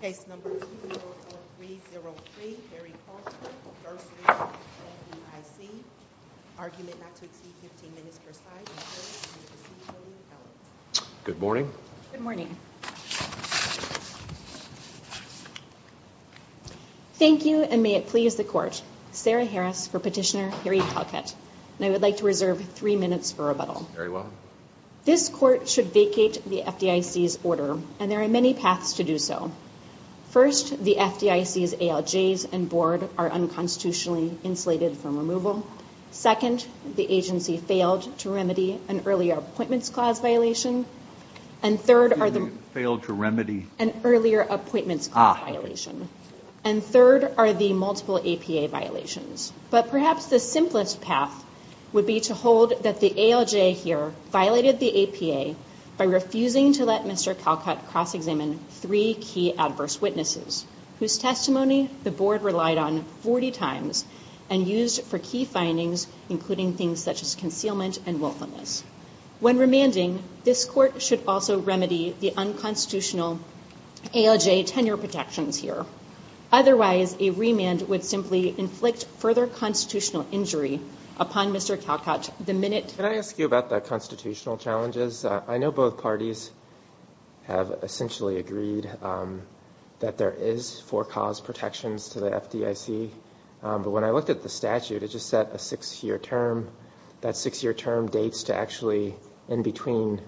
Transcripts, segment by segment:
Case No. 204303 Harry Calcutt v FDIC Argument not to exceed 15 minutes per side Good morning. Good morning. Thank you and may it please the Court. Sarah Harris for Petitioner Harry Calcutt. And I would like to reserve three minutes for rebuttal. Very well. This Court should vacate the FDIC's order and there are many paths to do so. First, the FDIC's ALJs and Board are unconstitutionally insulated from removal. Second, the agency failed to remedy an earlier Appointments Clause violation. And third are the... Failed to remedy... An earlier Appointments Clause violation. And third are the multiple APA violations. But perhaps the simplest path would be to hold that the ALJ here violated the APA by refusing to let Mr. Calcutt cross-examine three key adverse witnesses whose testimony the Board relied on 40 times and used for key findings including things such as concealment and willfulness. When remanding, this Court should also remedy the unconstitutional ALJ tenure protections here. Otherwise, a remand would simply inflict further constitutional injury upon Mr. Calcutt the minute... Can I ask you about the constitutional challenges? I know both parties have essentially agreed that there is for-cause protections to the FDIC. But when I looked at the statute, it just said a six-year term. That six-year term dates to actually in between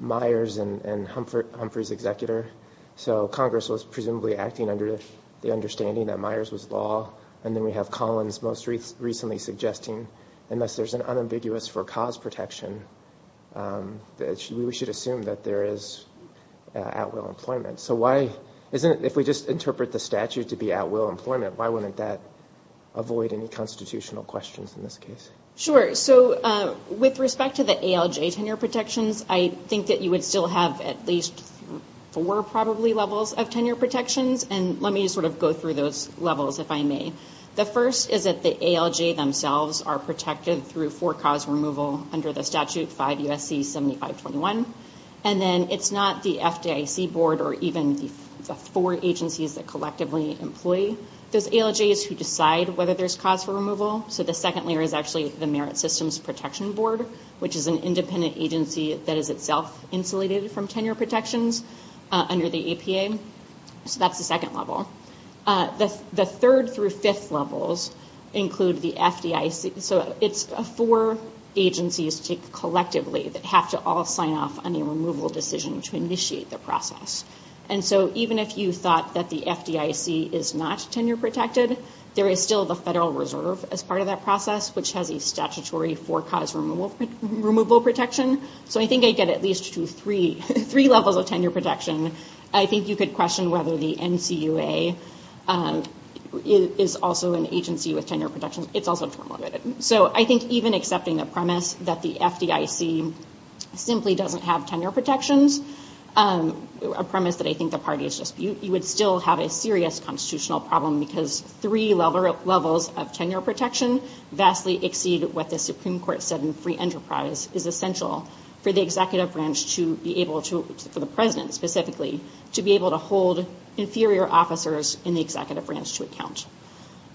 Myers and Humphrey's executor. So Congress was presumably acting under the understanding that Myers was law. And then we have Collins most recently suggesting unless there's an unambiguous for-cause protection, we should assume that there is at-will employment. So why... If we just interpret the statute to be at-will employment, why wouldn't that avoid any constitutional questions in this case? Sure. So with respect to the ALJ tenure protections, I think that you would still have at least four probably levels of tenure protections. And let me sort of go through those levels if I may. The first is that the ALJ themselves are protected through for-cause removal under the statute 5 U.S.C. 7521. And then it's not the FDIC board or even the four agencies that collectively employ those ALJs who decide whether there's cause for removal. So the second layer is actually the Merit Systems Protection Board, which is an independent agency that is itself insulated from tenure protections under the APA. So that's the second level. The third through fifth levels include the FDIC. So it's four agencies collectively that have to all sign off on a removal decision to initiate the process. And so even if you thought that the FDIC is not tenure protected, there is still the Federal Reserve as part of that process, which has a statutory for-cause removal protection. So I think I get at least to three levels of tenure protection. I think you could question whether the NCUA is also an agency with tenure protections. It's also term limited. So I think even accepting the premise that the FDIC simply doesn't have tenure protections, a premise that I think the parties dispute, you would still have a serious constitutional problem because three levels of tenure protection vastly exceed what the Supreme Court said in free enterprise is essential for the executive branch to be able to, for the president specifically, to be able to hold inferior officers in the executive branch to account.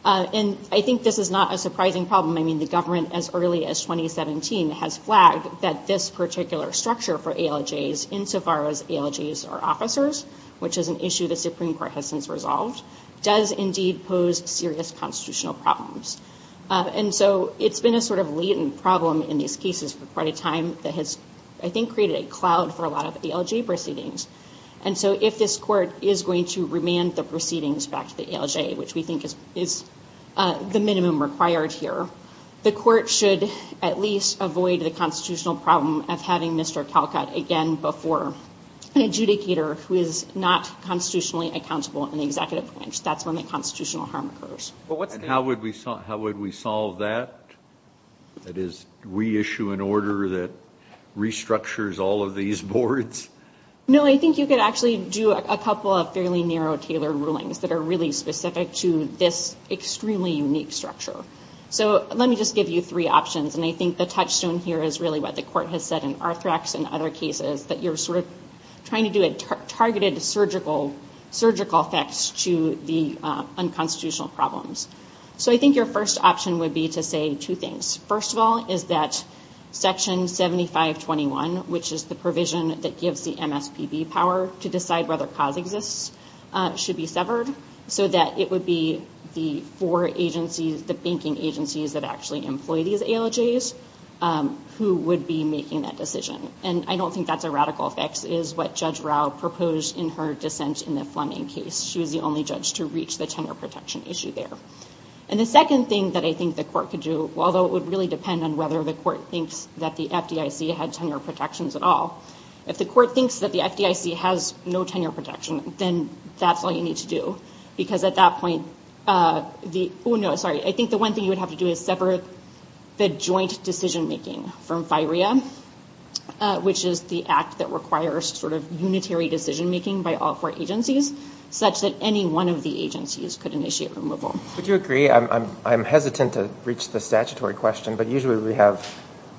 And I think this is not a surprising problem. I mean, the government as early as 2017 has flagged that this particular structure for ALJs, insofar as ALJs are officers, which is an issue the Supreme Court has since resolved, does indeed pose serious constitutional problems. And so it's been a sort of latent problem in these cases for quite a time that has, I think, created a cloud for a lot of ALJ proceedings. And so if this court is going to remand the proceedings back to the ALJ, which we think is the minimum required here, the court should at least avoid the constitutional problem of having Mr. Calcutt again before an adjudicator who is not constitutionally accountable in the executive branch. That's when the constitutional harm occurs. And how would we solve that? That is, we issue an order that restructures all of these boards? No, I think you could actually do a couple of fairly narrow, tailored rulings that are really specific to this extremely unique structure. So let me just give you three options. And I think the touchstone here is really what the court has said in Arthrex and other cases, that you're sort of trying to do a targeted surgical effects to the unconstitutional problems. So I think your first option would be to say two things. First of all is that Section 7521, which is the provision that gives the MSPB power to decide whether cause exists, should be severed so that it would be the four agencies, the banking agencies that actually employ these ALJs, who would be making that decision. And I don't think that's a radical fix, is what Judge Rao proposed in her dissent in the Fleming case. She was the only judge to reach the tenure protection issue there. And the second thing that I think the court could do, although it would really depend on whether the court thinks that the FDIC had tenure protections at all, if the court thinks that the FDIC has no tenure protection, then that's all you need to do. Because at that point, I think the one thing you would have to do is sever the joint decision-making from FIREA, which is the act that requires sort of unitary decision-making by all four agencies, such that any one of the agencies could initiate removal. Would you agree? I'm hesitant to reach the statutory question, but usually we have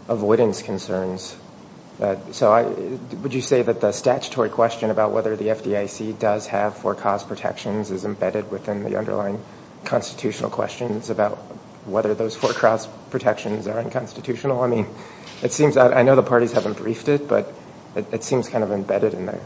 avoidance concerns. So would you say that the statutory question about whether the FDIC does have four-cause protections is embedded within the underlying constitutional questions about whether those four-cause protections are unconstitutional? I mean, I know the parties haven't briefed it, but it seems kind of embedded in the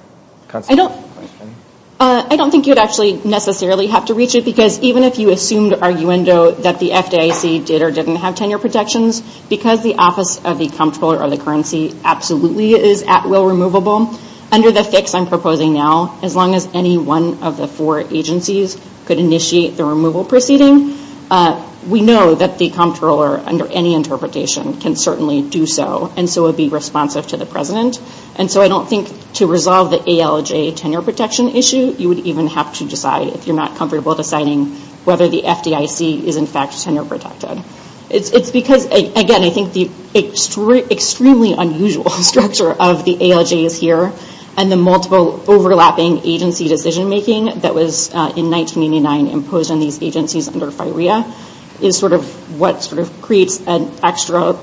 constitutional question. I don't think you'd actually necessarily have to reach it, because even if you assumed arguendo that the FDIC did or didn't have tenure protections, because the Office of the Comptroller of the Currency absolutely is at will removable, under the fix I'm proposing now, as long as any one of the four agencies could initiate the removal proceeding, we know that the Comptroller, under any interpretation, can certainly do so, and so would be responsive to the President. And so I don't think to resolve the ALJ tenure protection issue, you would even have to decide, if you're not comfortable deciding, whether the FDIC is in fact tenure protected. It's because, again, I think the extremely unusual structure of the ALJs here and the multiple overlapping agency decision-making that was, in 1989, imposed on these agencies under FIREA, is sort of what sort of creates an extra,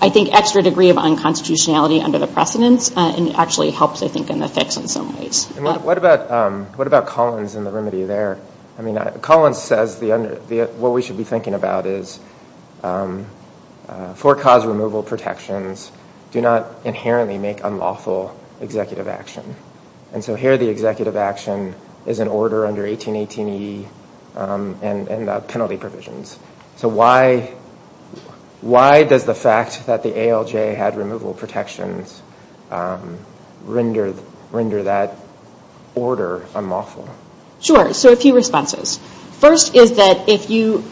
I think, extra degree of unconstitutionality under the precedents, and actually helps, I think, in the fix in some ways. And what about Collins and the remedy there? I mean, Collins says what we should be thinking about is, for-cause removal protections do not inherently make unlawful executive action. And so here the executive action is in order under 1818E and the penalty provisions. So why does the fact that the ALJ had removal protections render that order unlawful? Sure. So a few responses. First is that if you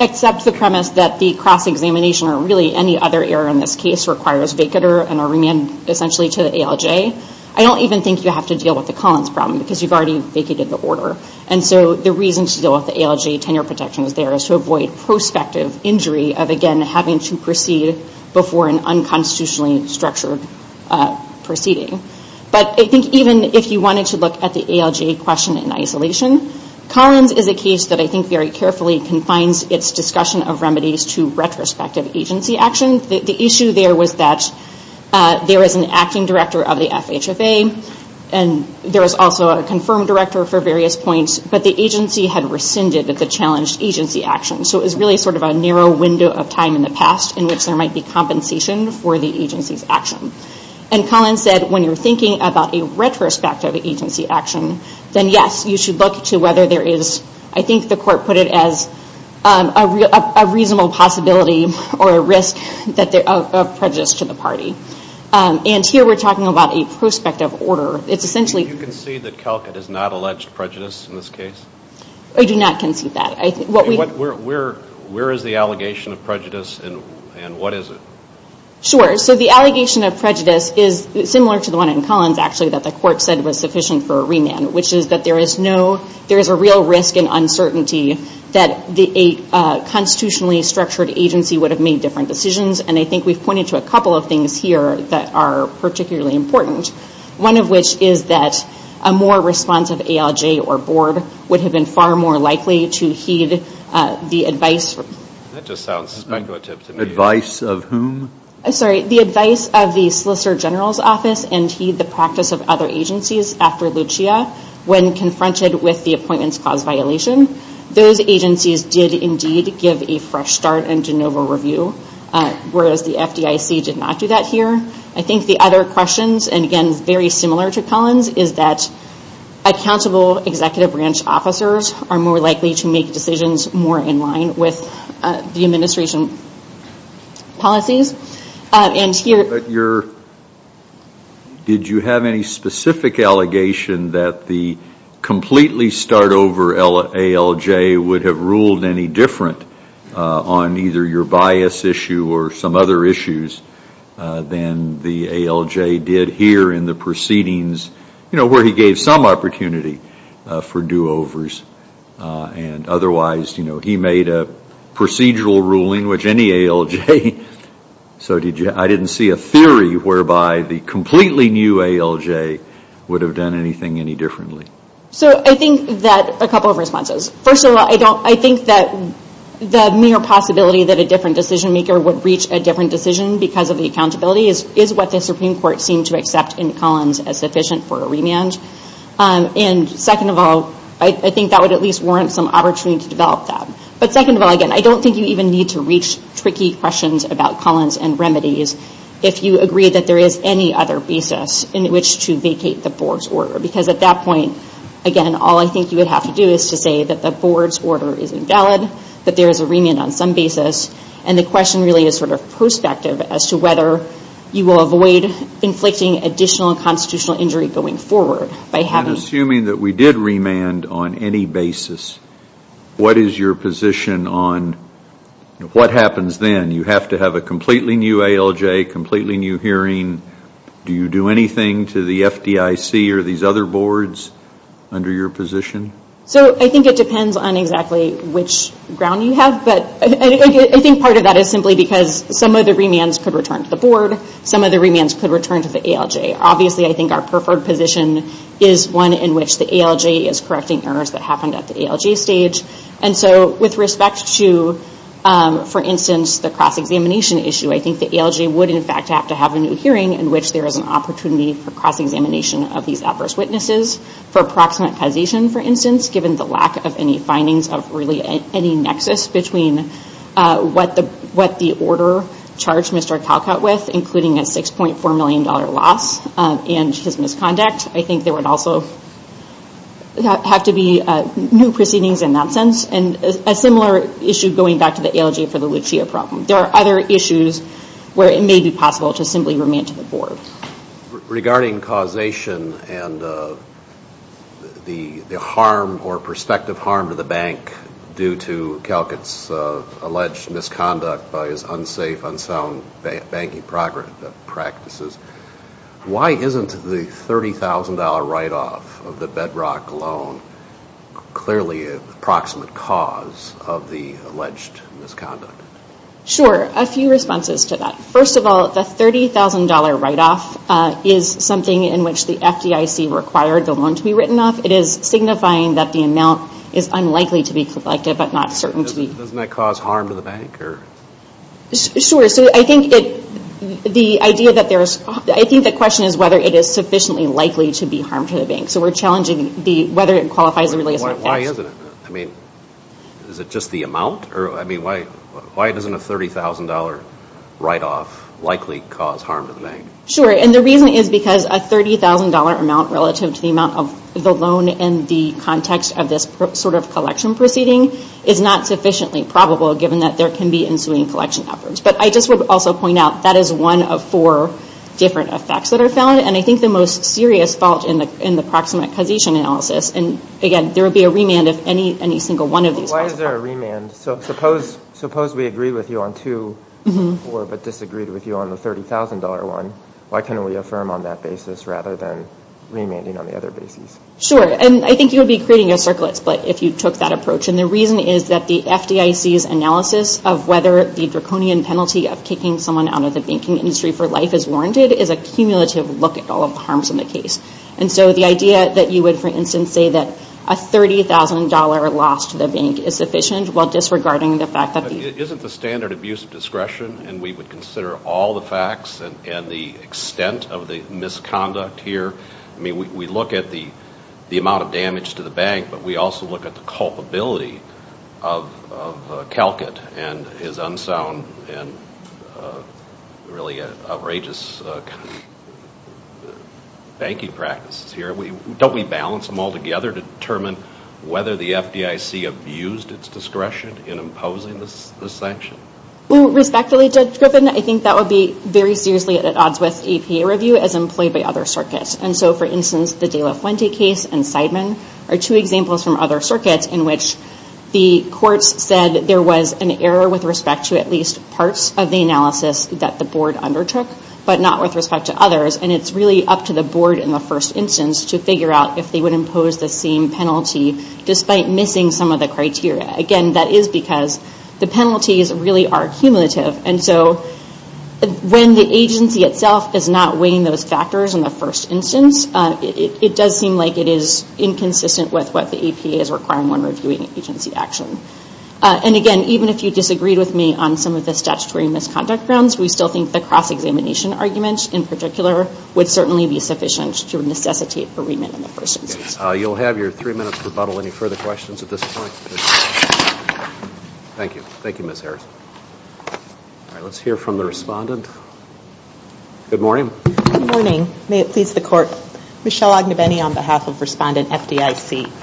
accept the premise that the cross-examination or really any other error in this case requires vacater and a remand, essentially, to the ALJ, I don't even think you have to deal with the Collins problem because you've already vacated the order. And so the reason to deal with the ALJ tenure protection is there is to avoid prospective injury of, again, having to proceed before an unconstitutionally structured proceeding. But I think even if you wanted to look at the ALJ question in isolation, Collins is a case that I think very carefully confines its discussion of remedies to retrospective agency action. The issue there was that there is an acting director of the FHFA, and there is also a confirmed director for various points, but the agency had rescinded the challenged agency action. So it was really sort of a narrow window of time in the past in which there might be compensation for the agency's action. And Collins said when you're thinking about a retrospective agency action, then yes, you should look to whether there is, I think the court put it as, a reasonable possibility or a risk of prejudice to the party. And here we're talking about a prospective order. It's essentially... Do you concede that Calcutt has not alleged prejudice in this case? I do not concede that. Where is the allegation of prejudice and what is it? Sure. So the allegation of prejudice is similar to the one in Collins, actually, that the court said was sufficient for a remand, which is that there is a real risk and uncertainty that a constitutionally structured agency would have made different decisions. And I think we've pointed to a couple of things here that are particularly important, one of which is that a more responsive ALJ or board would have been far more likely to heed the advice... That just sounds speculative to me. The advice of whom? I'm sorry. The advice of the Solicitor General's Office and heed the practice of other agencies after Lucia when confronted with the appointments clause violation. Those agencies did indeed give a fresh start in de novo review, whereas the FDIC did not do that here. I think the other questions, and again, very similar to Collins, is that accountable executive branch officers are more likely to make decisions more in line with the administration policies. Did you have any specific allegation that the completely start over ALJ would have ruled any different on either your bias issue or some other issues than the ALJ did here in the proceedings, where he gave some opportunity for do-overs? And otherwise, he made a procedural ruling, which any ALJ... So I didn't see a theory whereby the completely new ALJ would have done anything any differently. So I think that a couple of responses. First of all, I think that the mere possibility that a different decision maker would reach a different decision because of the accountability is what the Supreme Court seemed to accept in Collins as sufficient for a remand. And second of all, I think that would at least warrant some opportunity to develop that. But second of all, again, I don't think you even need to reach tricky questions about Collins and remedies if you agree that there is any other basis in which to vacate the board's order. Because at that point, again, all I think you would have to do is to say that the board's order is invalid, that there is a remand on some basis, and the question really is sort of prospective as to whether you will avoid inflicting additional constitutional injury going forward by having... And assuming that we did remand on any basis, what is your position on what happens then? You have to have a completely new ALJ, completely new hearing. Do you do anything to the FDIC or these other boards under your position? So I think it depends on exactly which ground you have. I think part of that is simply because some of the remands could return to the board, some of the remands could return to the ALJ. Obviously, I think our preferred position is one in which the ALJ is correcting errors that happened at the ALJ stage. And so with respect to, for instance, the cross-examination issue, I think the ALJ would in fact have to have a new hearing in which there is an opportunity for cross-examination of these adverse witnesses for approximate causation, for instance, given the lack of any findings of really any nexus between what the order charged Mr. Calcutt with, including a $6.4 million loss and his misconduct. I think there would also have to be new proceedings in that sense, and a similar issue going back to the ALJ for the Lucia problem. There are other issues where it may be possible to simply remand to the board. Regarding causation and the harm or perspective harm to the bank due to Calcutt's alleged misconduct by his unsafe, unsound banking practices, why isn't the $30,000 write-off of the Bedrock loan clearly an approximate cause of the alleged misconduct? Sure, a few responses to that. First of all, the $30,000 write-off is something in which the FDIC required the loan to be written off. It is signifying that the amount is unlikely to be collected, but not certain to be. Doesn't that cause harm to the bank? Sure. So I think the question is whether it is sufficiently likely to be harm to the bank. So we're challenging whether it qualifies or really isn't. Why isn't it? Is it just the amount? Why doesn't a $30,000 write-off likely cause harm to the bank? Sure, and the reason is because a $30,000 amount relative to the amount of the loan in the context of this sort of collection proceeding is not sufficiently probable given that there can be ensuing collection efforts. But I just would also point out that is one of four different effects that are found, and I think the most serious fault in the proximate causation analysis, and again, there would be a remand if any single one of these falls apart. Why is there a remand? So suppose we agree with you on two, but disagreed with you on the $30,000 one. Why can't we affirm on that basis rather than remanding on the other basis? Sure, and I think you would be creating a circlet split if you took that approach, and the reason is that the FDIC's analysis of whether the draconian penalty of kicking someone out of the banking industry for life is warranted is a cumulative look at all of the harms in the case. And so the idea that you would, for instance, say that a $30,000 loss to the bank is sufficient while disregarding the fact that the Isn't the standard abuse of discretion, and we would consider all the facts and the extent of the misconduct here? I mean, we look at the amount of damage to the bank, but we also look at the culpability of Calcutt and his unsound and really outrageous banking practices here. Don't we balance them all together to determine whether the FDIC abused its discretion in imposing this sanction? Well, respectfully, Judge Griffin, I think that would be very seriously at odds with APA review as employed by other circuits. And so, for instance, the De La Fuente case and Seidman are two examples from other circuits in which the courts said that there was an error with respect to at least parts of the analysis that the board undertook, but not with respect to others. And it's really up to the board in the first instance to figure out if they would impose the same penalty despite missing some of the criteria. Again, that is because the penalties really are cumulative. And so when the agency itself is not weighing those factors in the first instance, it does seem like it is inconsistent with what the APA is requiring when reviewing agency action. And again, even if you disagreed with me on some of the statutory misconduct grounds, we still think the cross-examination argument, in particular, would certainly be sufficient to necessitate a remit in the first instance. You'll have your three minutes rebuttal. Any further questions at this point? Thank you. Thank you, Ms. Harrison. All right, let's hear from the respondent. Good morning. Good morning. May it please the Court. Michelle Ognebeni on behalf of Respondent FDIC.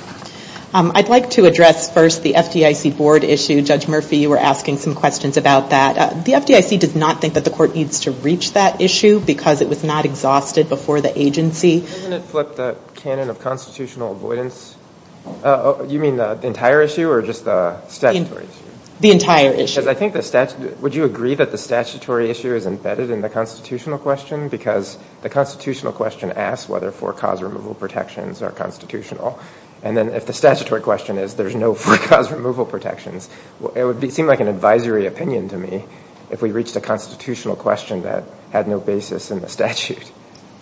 I'd like to address first the FDIC board issue. Judge Murphy, you were asking some questions about that. The FDIC does not think that the Court needs to reach that issue because it was not exhausted before the agency. Doesn't it flip the canon of constitutional avoidance? You mean the entire issue or just the statutory issue? The entire issue. Because I think the statute – would you agree that the statutory issue is embedded in the constitutional question? Because the constitutional question asks whether four-cause removal protections are constitutional. And then if the statutory question is there's no four-cause removal protections, it would seem like an advisory opinion to me if we reached a constitutional question that had no basis in the statute.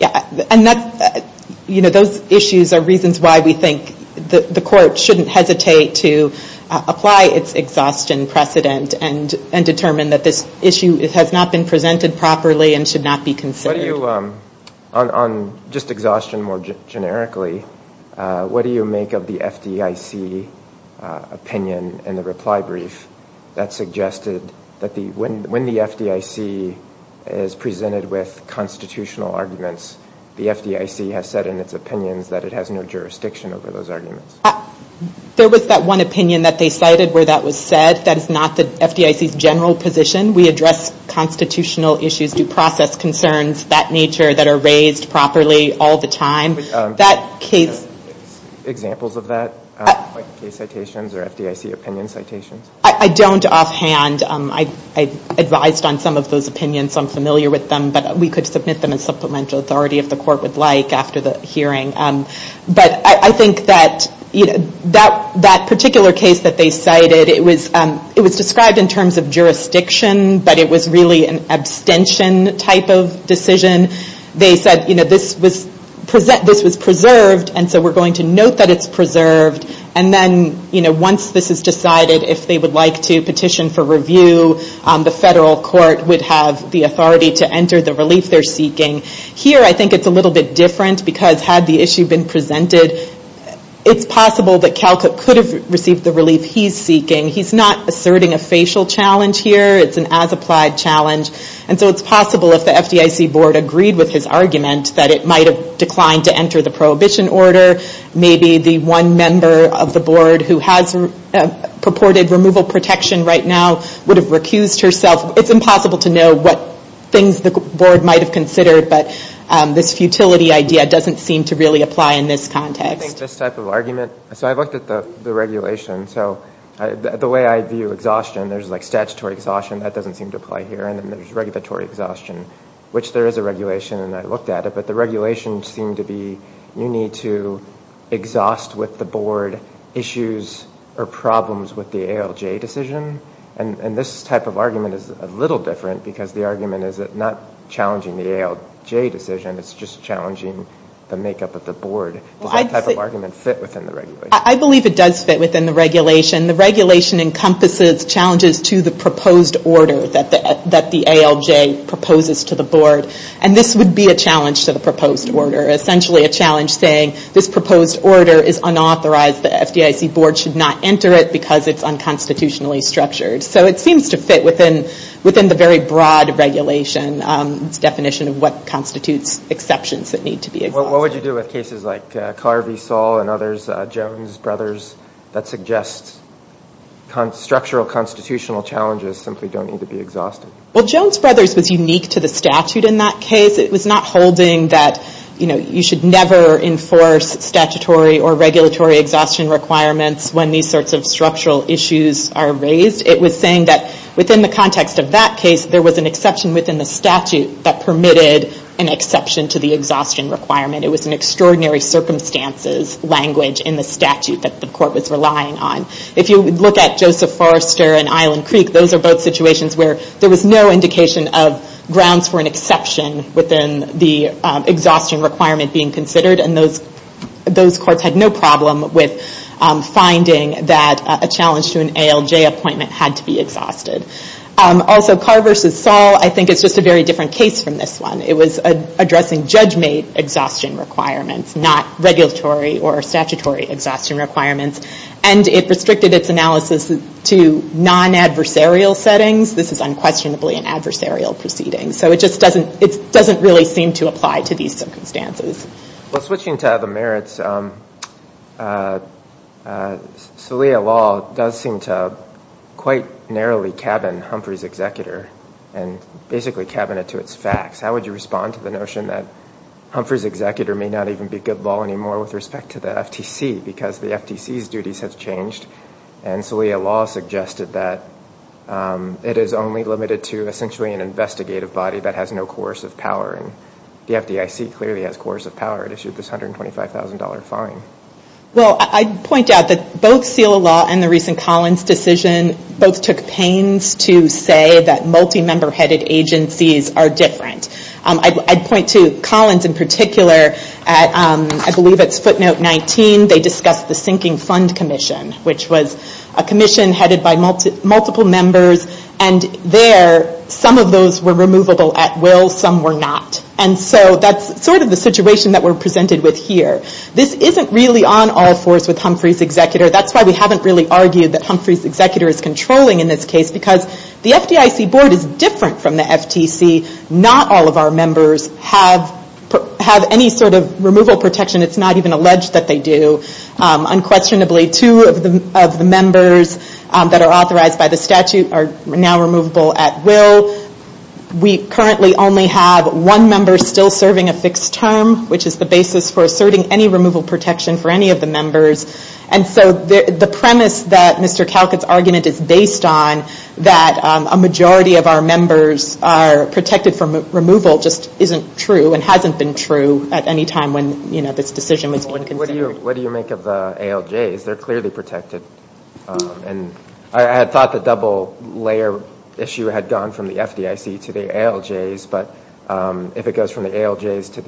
Yeah, and that's – you know, those issues are reasons why we think the Court shouldn't hesitate to apply its exhaustion precedent and determine that this issue has not been presented properly and should not be considered. On just exhaustion more generically, what do you make of the FDIC opinion in the reply brief that suggested that when the FDIC is presented with constitutional arguments, the FDIC has said in its opinions that it has no jurisdiction over those arguments? There was that one opinion that they cited where that was said. That is not the FDIC's general position. We address constitutional issues, due process concerns, that nature that are raised properly all the time. Do you have examples of that, like case citations or FDIC opinion citations? I don't offhand. I advised on some of those opinions. I'm familiar with them. But we could submit them as supplemental authority if the Court would like after the hearing. But I think that that particular case that they cited, it was described in terms of jurisdiction, but it was really an abstention type of decision. They said this was preserved, and so we're going to note that it's preserved. And then once this is decided, if they would like to petition for review, the federal court would have the authority to enter the relief they're seeking. Here I think it's a little bit different, because had the issue been presented, it's possible that Calcutt could have received the relief he's seeking. He's not asserting a facial challenge here. It's an as-applied challenge. And so it's possible if the FDIC board agreed with his argument that it might have declined to enter the prohibition order, maybe the one member of the board who has purported removal protection right now would have recused herself. It's impossible to know what things the board might have considered, but this futility idea doesn't seem to really apply in this context. I think this type of argument... So I've looked at the regulation. So the way I view exhaustion, there's like statutory exhaustion. That doesn't seem to apply here. And then there's regulatory exhaustion, which there is a regulation, and I looked at it. But the regulations seem to be you need to exhaust with the board issues or problems with the ALJ decision. And this type of argument is a little different, because the argument is not challenging the ALJ decision. It's just challenging the makeup of the board. Does that type of argument fit within the regulation? I believe it does fit within the regulation. The regulation encompasses challenges to the proposed order that the ALJ proposes to the board. And this would be a challenge to the proposed order, essentially a challenge saying this proposed order is unauthorized. The FDIC board should not enter it because it's unconstitutionally structured. So it seems to fit within the very broad regulation. It's definition of what constitutes exceptions that need to be exhausted. What would you do with cases like Carvey, Saul, and others, Jones, Brothers, that suggests structural constitutional challenges simply don't need to be exhausted? Well, Jones, Brothers was unique to the statute in that case. It was not holding that you should never enforce statutory or regulatory exhaustion requirements when these sorts of structural issues are raised. It was saying that within the context of that case, there was an exception within the statute that permitted an exception to the exhaustion requirement. It was an extraordinary circumstances language in the statute that the court was relying on. If you look at Joseph Forrester and Island Creek, those are both situations where there was no indication of grounds for an exception within the exhaustion requirement being considered. And those courts had no problem with finding that a challenge to an ALJ appointment had to be exhausted. Also, Carvey versus Saul, I think it's just a very different case from this one. It was addressing judge-made exhaustion requirements, not regulatory or statutory exhaustion requirements. And it restricted its analysis to non-adversarial settings. This is unquestionably an adversarial proceeding. So it just doesn't really seem to apply to these circumstances. Well, switching to other merits, Saliha Law does seem to quite narrowly cabin Humphrey's executor and basically cabin it to its facts. How would you respond to the notion that Humphrey's executor may not even be good law anymore with respect to the FTC because the FTC's duties have changed and Saliha Law suggested that it is only limited to essentially an investigative body that has no coercive power. And the FDIC clearly has coercive power. It issued this $125,000 fine. Well, I'd point out that both Saliha Law and the recent Collins decision both took pains to say that multi-member headed agencies are different. I'd point to Collins in particular. I believe it's footnote 19. They discussed the sinking fund commission, which was a commission headed by multiple members. And there, some of those were removable at will. Some were not. And so that's sort of the situation that we're presented with here. This isn't really on all fours with Humphrey's executor. That's why we haven't really argued that Humphrey's executor is controlling in this case because the FDIC board is different from the FTC. Not all of our members have any sort of removal protection. It's not even alleged that they do. Unquestionably, two of the members that are authorized by the statute are now removable at will. We currently only have one member still serving a fixed term, which is the basis for asserting any removal protection for any of the members. And so the premise that Mr. Calcutt's argument is based on, that a majority of our members are protected from removal, just isn't true and hasn't been true at any time when this decision was being considered. What do you make of the ALJs? They're clearly protected. I had thought the double layer issue had gone from the FDIC to the ALJs, but if it goes from the ALJs to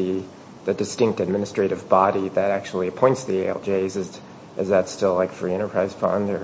the distinct administrative body that actually appoints the ALJs, is that still like free enterprise fund?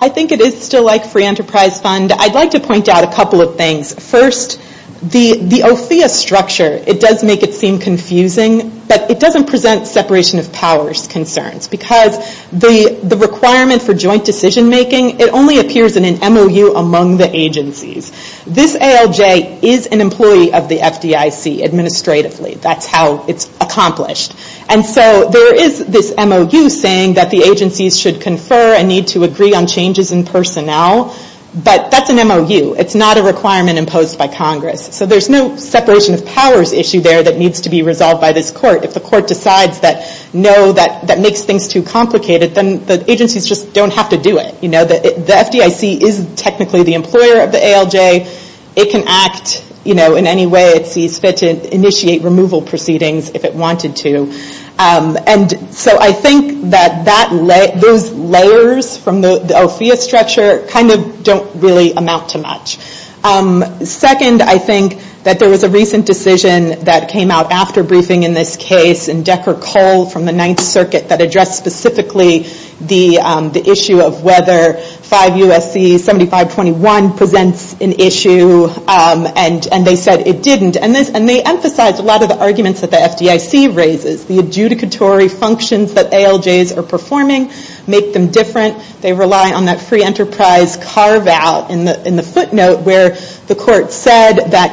I think it is still like free enterprise fund. I'd like to point out a couple of things. First, the OFIA structure, it does make it seem confusing, but it doesn't present separation of powers concerns because the requirement for joint decision making, it only appears in an MOU among the agencies. This ALJ is an employee of the FDIC administratively. That's how it's accomplished. And so there is this MOU saying that the agencies should confer and need to agree on changes in personnel, but that's an MOU. It's not a requirement imposed by Congress. So there's no separation of powers issue there that needs to be resolved by this court. If the court decides that no, that makes things too complicated, then the agencies just don't have to do it. The FDIC is technically the employer of the ALJ. It can act in any way it sees fit to initiate removal proceedings if it wanted to. And so I think that those layers from the OFIA structure kind of don't really amount to much. Second, I think that there was a recent decision that came out after briefing in this case in Decker Cole from the Ninth Circuit that addressed specifically the issue of whether 5 U.S.C. 7521 presents an issue, and they said it didn't. And they emphasized a lot of the arguments that the FDIC raises. The adjudicatory functions that ALJs are performing make them different. They rely on that free enterprise carve-out in the footnote where the court said that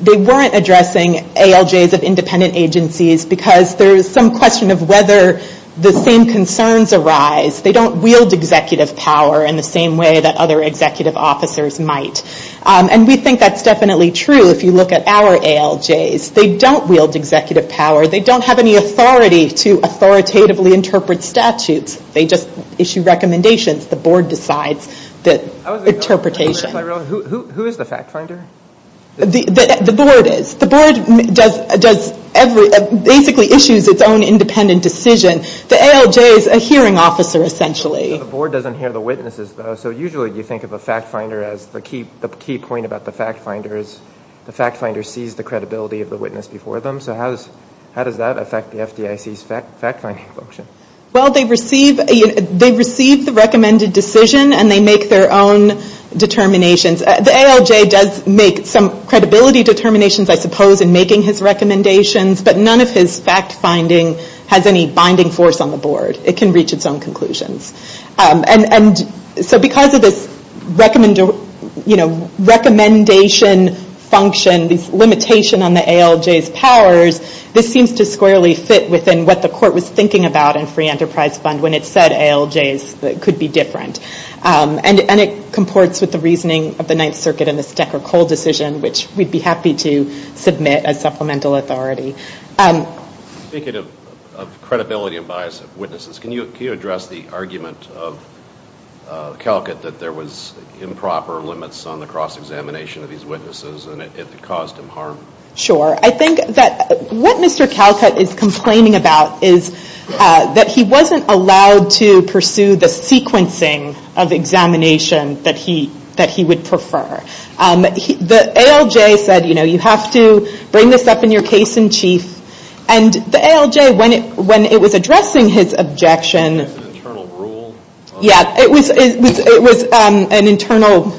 they weren't addressing ALJs of independent agencies because there's some question of whether the same concerns arise. They don't wield executive power in the same way that other executive officers might. And we think that's definitely true if you look at our ALJs. They don't wield executive power. They don't have any authority to authoritatively interpret statutes. They just issue recommendations. The board decides the interpretation. Who is the fact finder? The board is. The board basically issues its own independent decision. The ALJ is a hearing officer, essentially. The board doesn't hear the witnesses, though. So usually you think of a fact finder as the key point about the fact finder is the fact finder sees the credibility of the witness before them. So how does that affect the FDIC's fact finding function? Well, they receive the recommended decision and they make their own determinations. The ALJ does make some credibility determinations, I suppose, in making his recommendations. But none of his fact finding has any binding force on the board. It can reach its own conclusions. And so because of this recommendation function, this limitation on the ALJ's powers, this seems to squarely fit within what the court was thinking about in Free Enterprise Fund when it said ALJs could be different. And it comports with the reasoning of the Ninth Circuit in the Stecker-Cole decision, which we'd be happy to submit as supplemental authority. Speaking of credibility and bias of witnesses, can you address the argument of Calcutt that there was improper limits on the cross-examination of these witnesses and it caused him harm? Sure. I think that what Mr. Calcutt is complaining about is that he wasn't allowed to pursue the sequencing of examination that he would prefer. The ALJ said, you know, you have to bring this up in your case in chief. And the ALJ, when it was addressing his objection... It was an internal rule?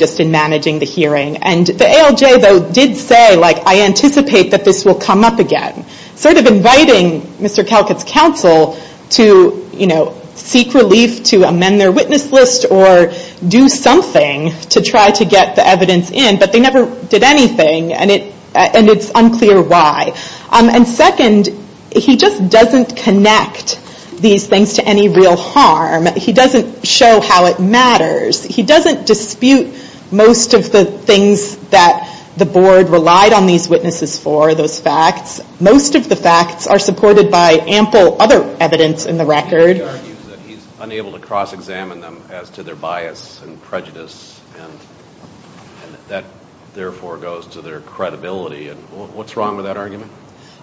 ...just in managing the hearing. And the ALJ, though, did say, like, I anticipate that this will come up again. Sort of inviting Mr. Calcutt's counsel to, you know, seek relief to amend their witness list or do something to try to get the evidence in, but they never did anything. And it's unclear why. And second, he just doesn't connect these things to any real harm. He doesn't show how it matters. He doesn't dispute most of the things that the board relied on these witnesses for, those facts. Most of the facts are supported by ample other evidence in the record. He argues that he's unable to cross-examine them as to their bias and prejudice and that therefore goes to their credibility. What's wrong with that argument?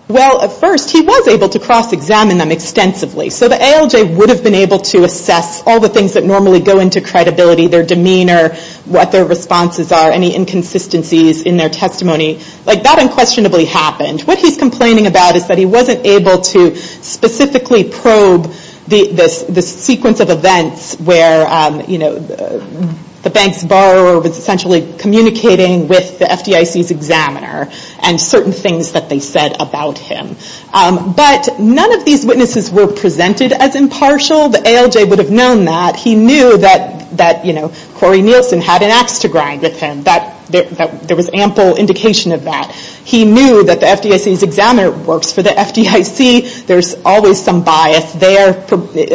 Well, at first, he was able to cross-examine them extensively. So the ALJ would have been able to assess all the things that normally go into credibility, their demeanor, what their responses are, any inconsistencies in their testimony. Like, that unquestionably happened. What he's complaining about is that he wasn't able to specifically probe the sequence of events where, you know, the bank's borrower was essentially communicating with the FDIC's examiner and certain things that they said about him. But none of these witnesses were presented as impartial. The ALJ would have known that. He knew that, you know, Corey Nielsen had an ax to grind with him. There was ample indication of that. He knew that the FDIC's examiner works for the FDIC. There's always some bias there,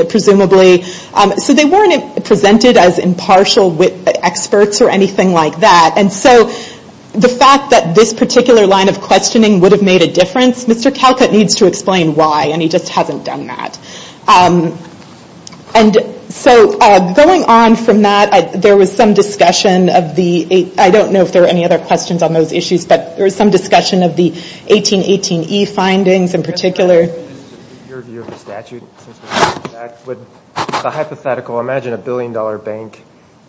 presumably. So they weren't presented as impartial experts or anything like that. And so the fact that this particular line of questioning would have made a difference, Mr. Calcutt needs to explain why, and he just hasn't done that. And so going on from that, there was some discussion of the, I don't know if there were any other questions on those issues, but there was some discussion of the 1818E findings in particular. Your view of the statute. The hypothetical, imagine a billion-dollar bank.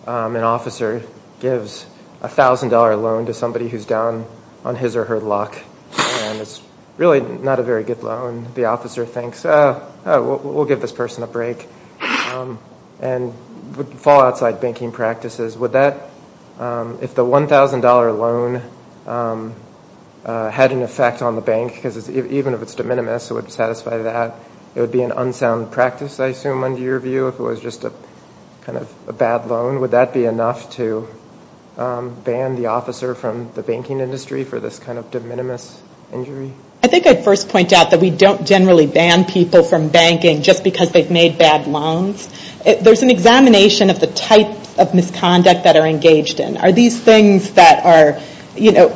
An officer gives a thousand-dollar loan to somebody who's down on his or her luck. And it's really not a very good loan. The officer thinks, oh, we'll give this person a break. And would fall outside banking practices. Would that, if the $1,000 loan had an effect on the bank, because even if it's de minimis it would satisfy that, it would be an unsound practice, I assume, under your view, if it was just a kind of a bad loan. Would that be enough to ban the officer from the banking industry for this kind of de minimis injury? I think I'd first point out that we don't generally ban people from banking just because they've made bad loans. There's an examination of the types of misconduct that are engaged in. Are these things that are, you know,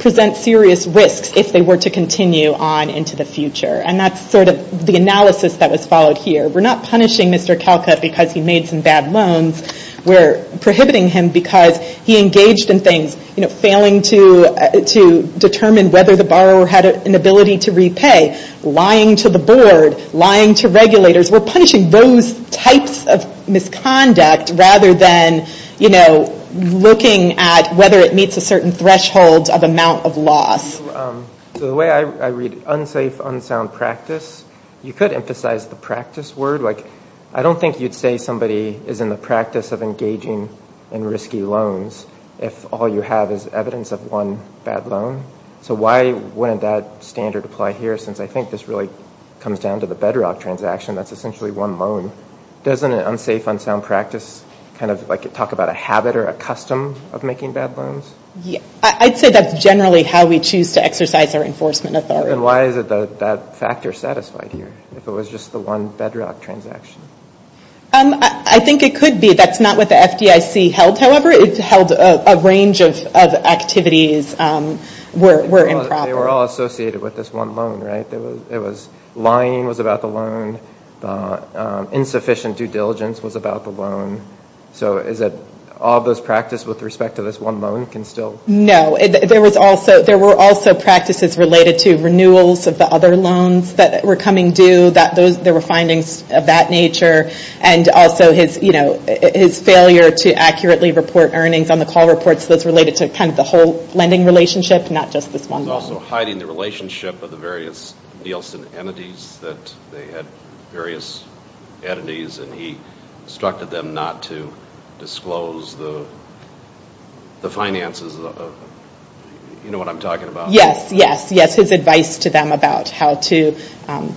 present serious risks if they were to continue on into the future? And that's sort of the analysis that was followed here. We're not punishing Mr. Calcutt because he made some bad loans. We're prohibiting him because he engaged in things, you know, failing to determine whether the borrower had an ability to repay, lying to the board, lying to regulators. We're punishing those types of misconduct rather than, you know, looking at whether it meets a certain threshold of amount of loss. So the way I read unsafe, unsound practice, you could emphasize the practice word. Like, I don't think you'd say somebody is in the practice of engaging in risky loans if all you have is evidence of one bad loan. So why wouldn't that standard apply here? Since I think this really comes down to the bedrock transaction. That's essentially one loan. Doesn't an unsafe, unsound practice kind of, like, talk about a habit or a custom of making bad loans? I'd say that's generally how we choose to exercise our enforcement authority. Then why is that factor satisfied here, if it was just the one bedrock transaction? That's not what the FDIC held, however. It held a range of activities were improper. They were all associated with this one loan, right? Lying was about the loan. Insufficient due diligence was about the loan. So is it all those practices with respect to this one loan can still? No. There were also practices related to renewals of the other loans that were coming due. There were findings of that nature. And also his failure to accurately report earnings on the call reports, those related to kind of the whole lending relationship, not just this one loan. He was also hiding the relationship of the various Nielsen entities, that they had various entities, and he instructed them not to disclose the finances. You know what I'm talking about. Yes, yes, yes. There was advice to them about how to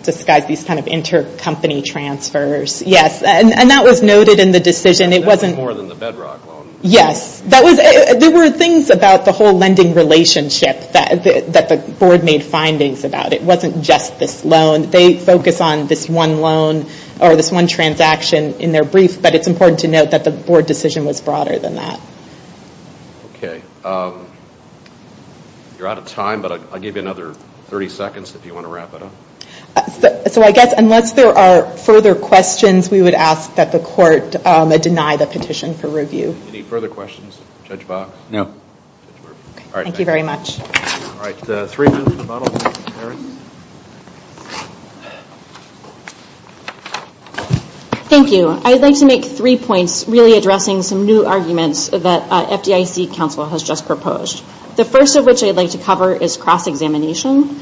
disguise these kind of intercompany transfers. Yes, and that was noted in the decision. It wasn't more than the bedrock loan. Yes. There were things about the whole lending relationship that the board made findings about. It wasn't just this loan. They focus on this one loan or this one transaction in their brief, but it's important to note that the board decision was broader than that. Okay. You're out of time, but I'll give you another 30 seconds if you want to wrap it up. So I guess unless there are further questions, we would ask that the court deny the petition for review. Any further questions? Judge Box? No. All right. Thank you very much. All right. Three minutes to bottle. Thank you. I'd like to make three points, really addressing some new arguments that FDIC counsel has just proposed. The first of which I'd like to cover is cross-examination.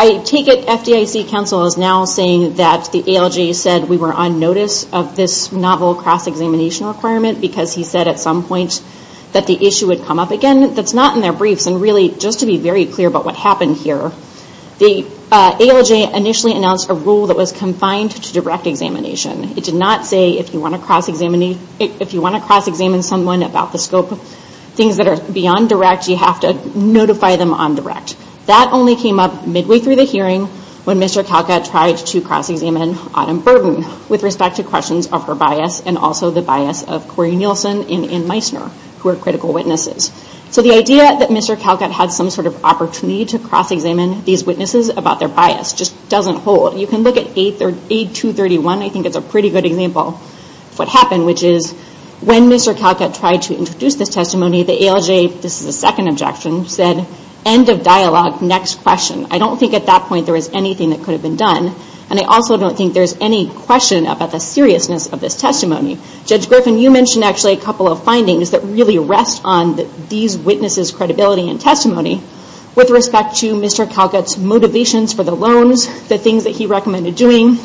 I take it FDIC counsel is now saying that the ALJ said we were on notice of this novel cross-examination requirement because he said at some point that the issue would come up again. That's not in their briefs, and really, just to be very clear about what happened here, the ALJ initially announced a rule that was confined to direct examination. It did not say if you want to cross-examine someone about the scope of things that are beyond direct, you have to notify them on direct. That only came up midway through the hearing when Mr. Calcutt tried to cross-examine Autumn Burden with respect to questions of her bias and also the bias of Corey Nielsen and Ann Meissner, who are critical witnesses. So the idea that Mr. Calcutt had some sort of opportunity to cross-examine these witnesses about their bias just doesn't hold. You can look at 8231. I think it's a pretty good example of what happened, which is when Mr. Calcutt tried to introduce this testimony, the ALJ, this is a second objection, said, end of dialogue, next question. I don't think at that point there was anything that could have been done, and I also don't think there's any question about the seriousness of this testimony. Judge Griffin, you mentioned actually a couple of findings that really rest on these witnesses' credibility and testimony with respect to Mr. Calcutt's motivations for the loans, the things that he recommended doing,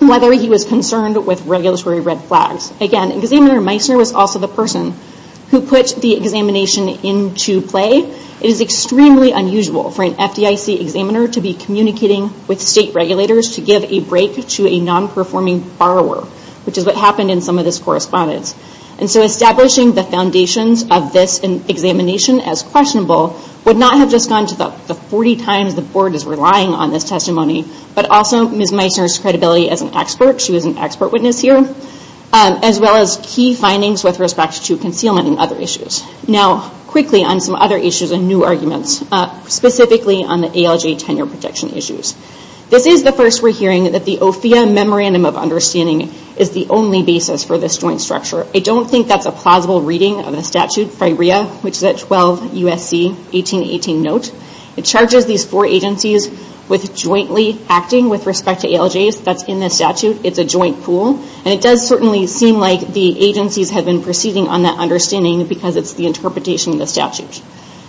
whether he was concerned with regulatory red flags. Again, Examiner Meissner was also the person who put the examination into play. It is extremely unusual for an FDIC examiner to be communicating with state regulators to give a break to a non-performing borrower, which is what happened in some of this correspondence. Establishing the foundations of this examination as questionable would not have just gone to the 40 times the Board is relying on this testimony, but also Ms. Meissner's credibility as an expert, she was an expert witness here, as well as key findings with respect to concealment and other issues. Now, quickly on some other issues and new arguments, specifically on the ALJ tenure protection issues. This is the first we're hearing that the OFIA Memorandum of Understanding is the only basis for this joint structure. I don't think that's a plausible reading of the statute, Frirea, which is at 12 U.S.C. 1818 note. It charges these four agencies with jointly acting with respect to ALJs. That's in the statute. It's a joint pool. It does certainly seem like the agencies have been proceeding on that understanding because it's the interpretation of the statute.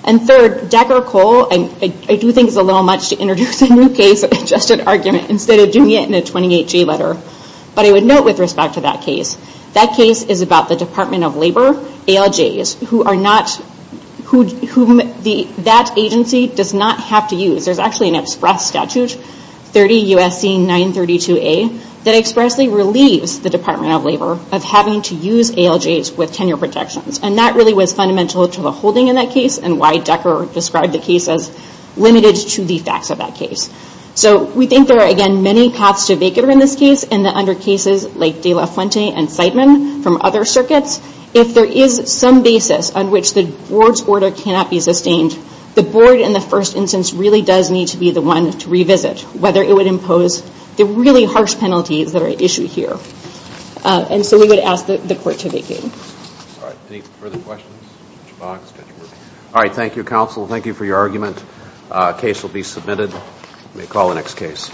Third, Decker-Cole, I do think it's a little much to introduce a new case in just an argument instead of doing it in a 28-J letter. But I would note with respect to that case, that case is about the Department of Labor ALJs whom that agency does not have to use. There's actually an express statute, 30 U.S.C. 932A, that expressly relieves the Department of Labor of having to use ALJs with tenure protections. That really was fundamental to the holding in that case and why Decker described the case as limited to the facts of that case. So we think there are, again, many paths to a vacater in this case and that under cases like De La Fuente and Seidman from other circuits, if there is some basis on which the board's order cannot be sustained, the board in the first instance really does need to be the one to revisit, whether it would impose the really harsh penalties that are issued here. And so we would ask the court to vacate. All right. Any further questions? All right. Thank you, counsel. Thank you for your argument. The case will be submitted. We may call the next case.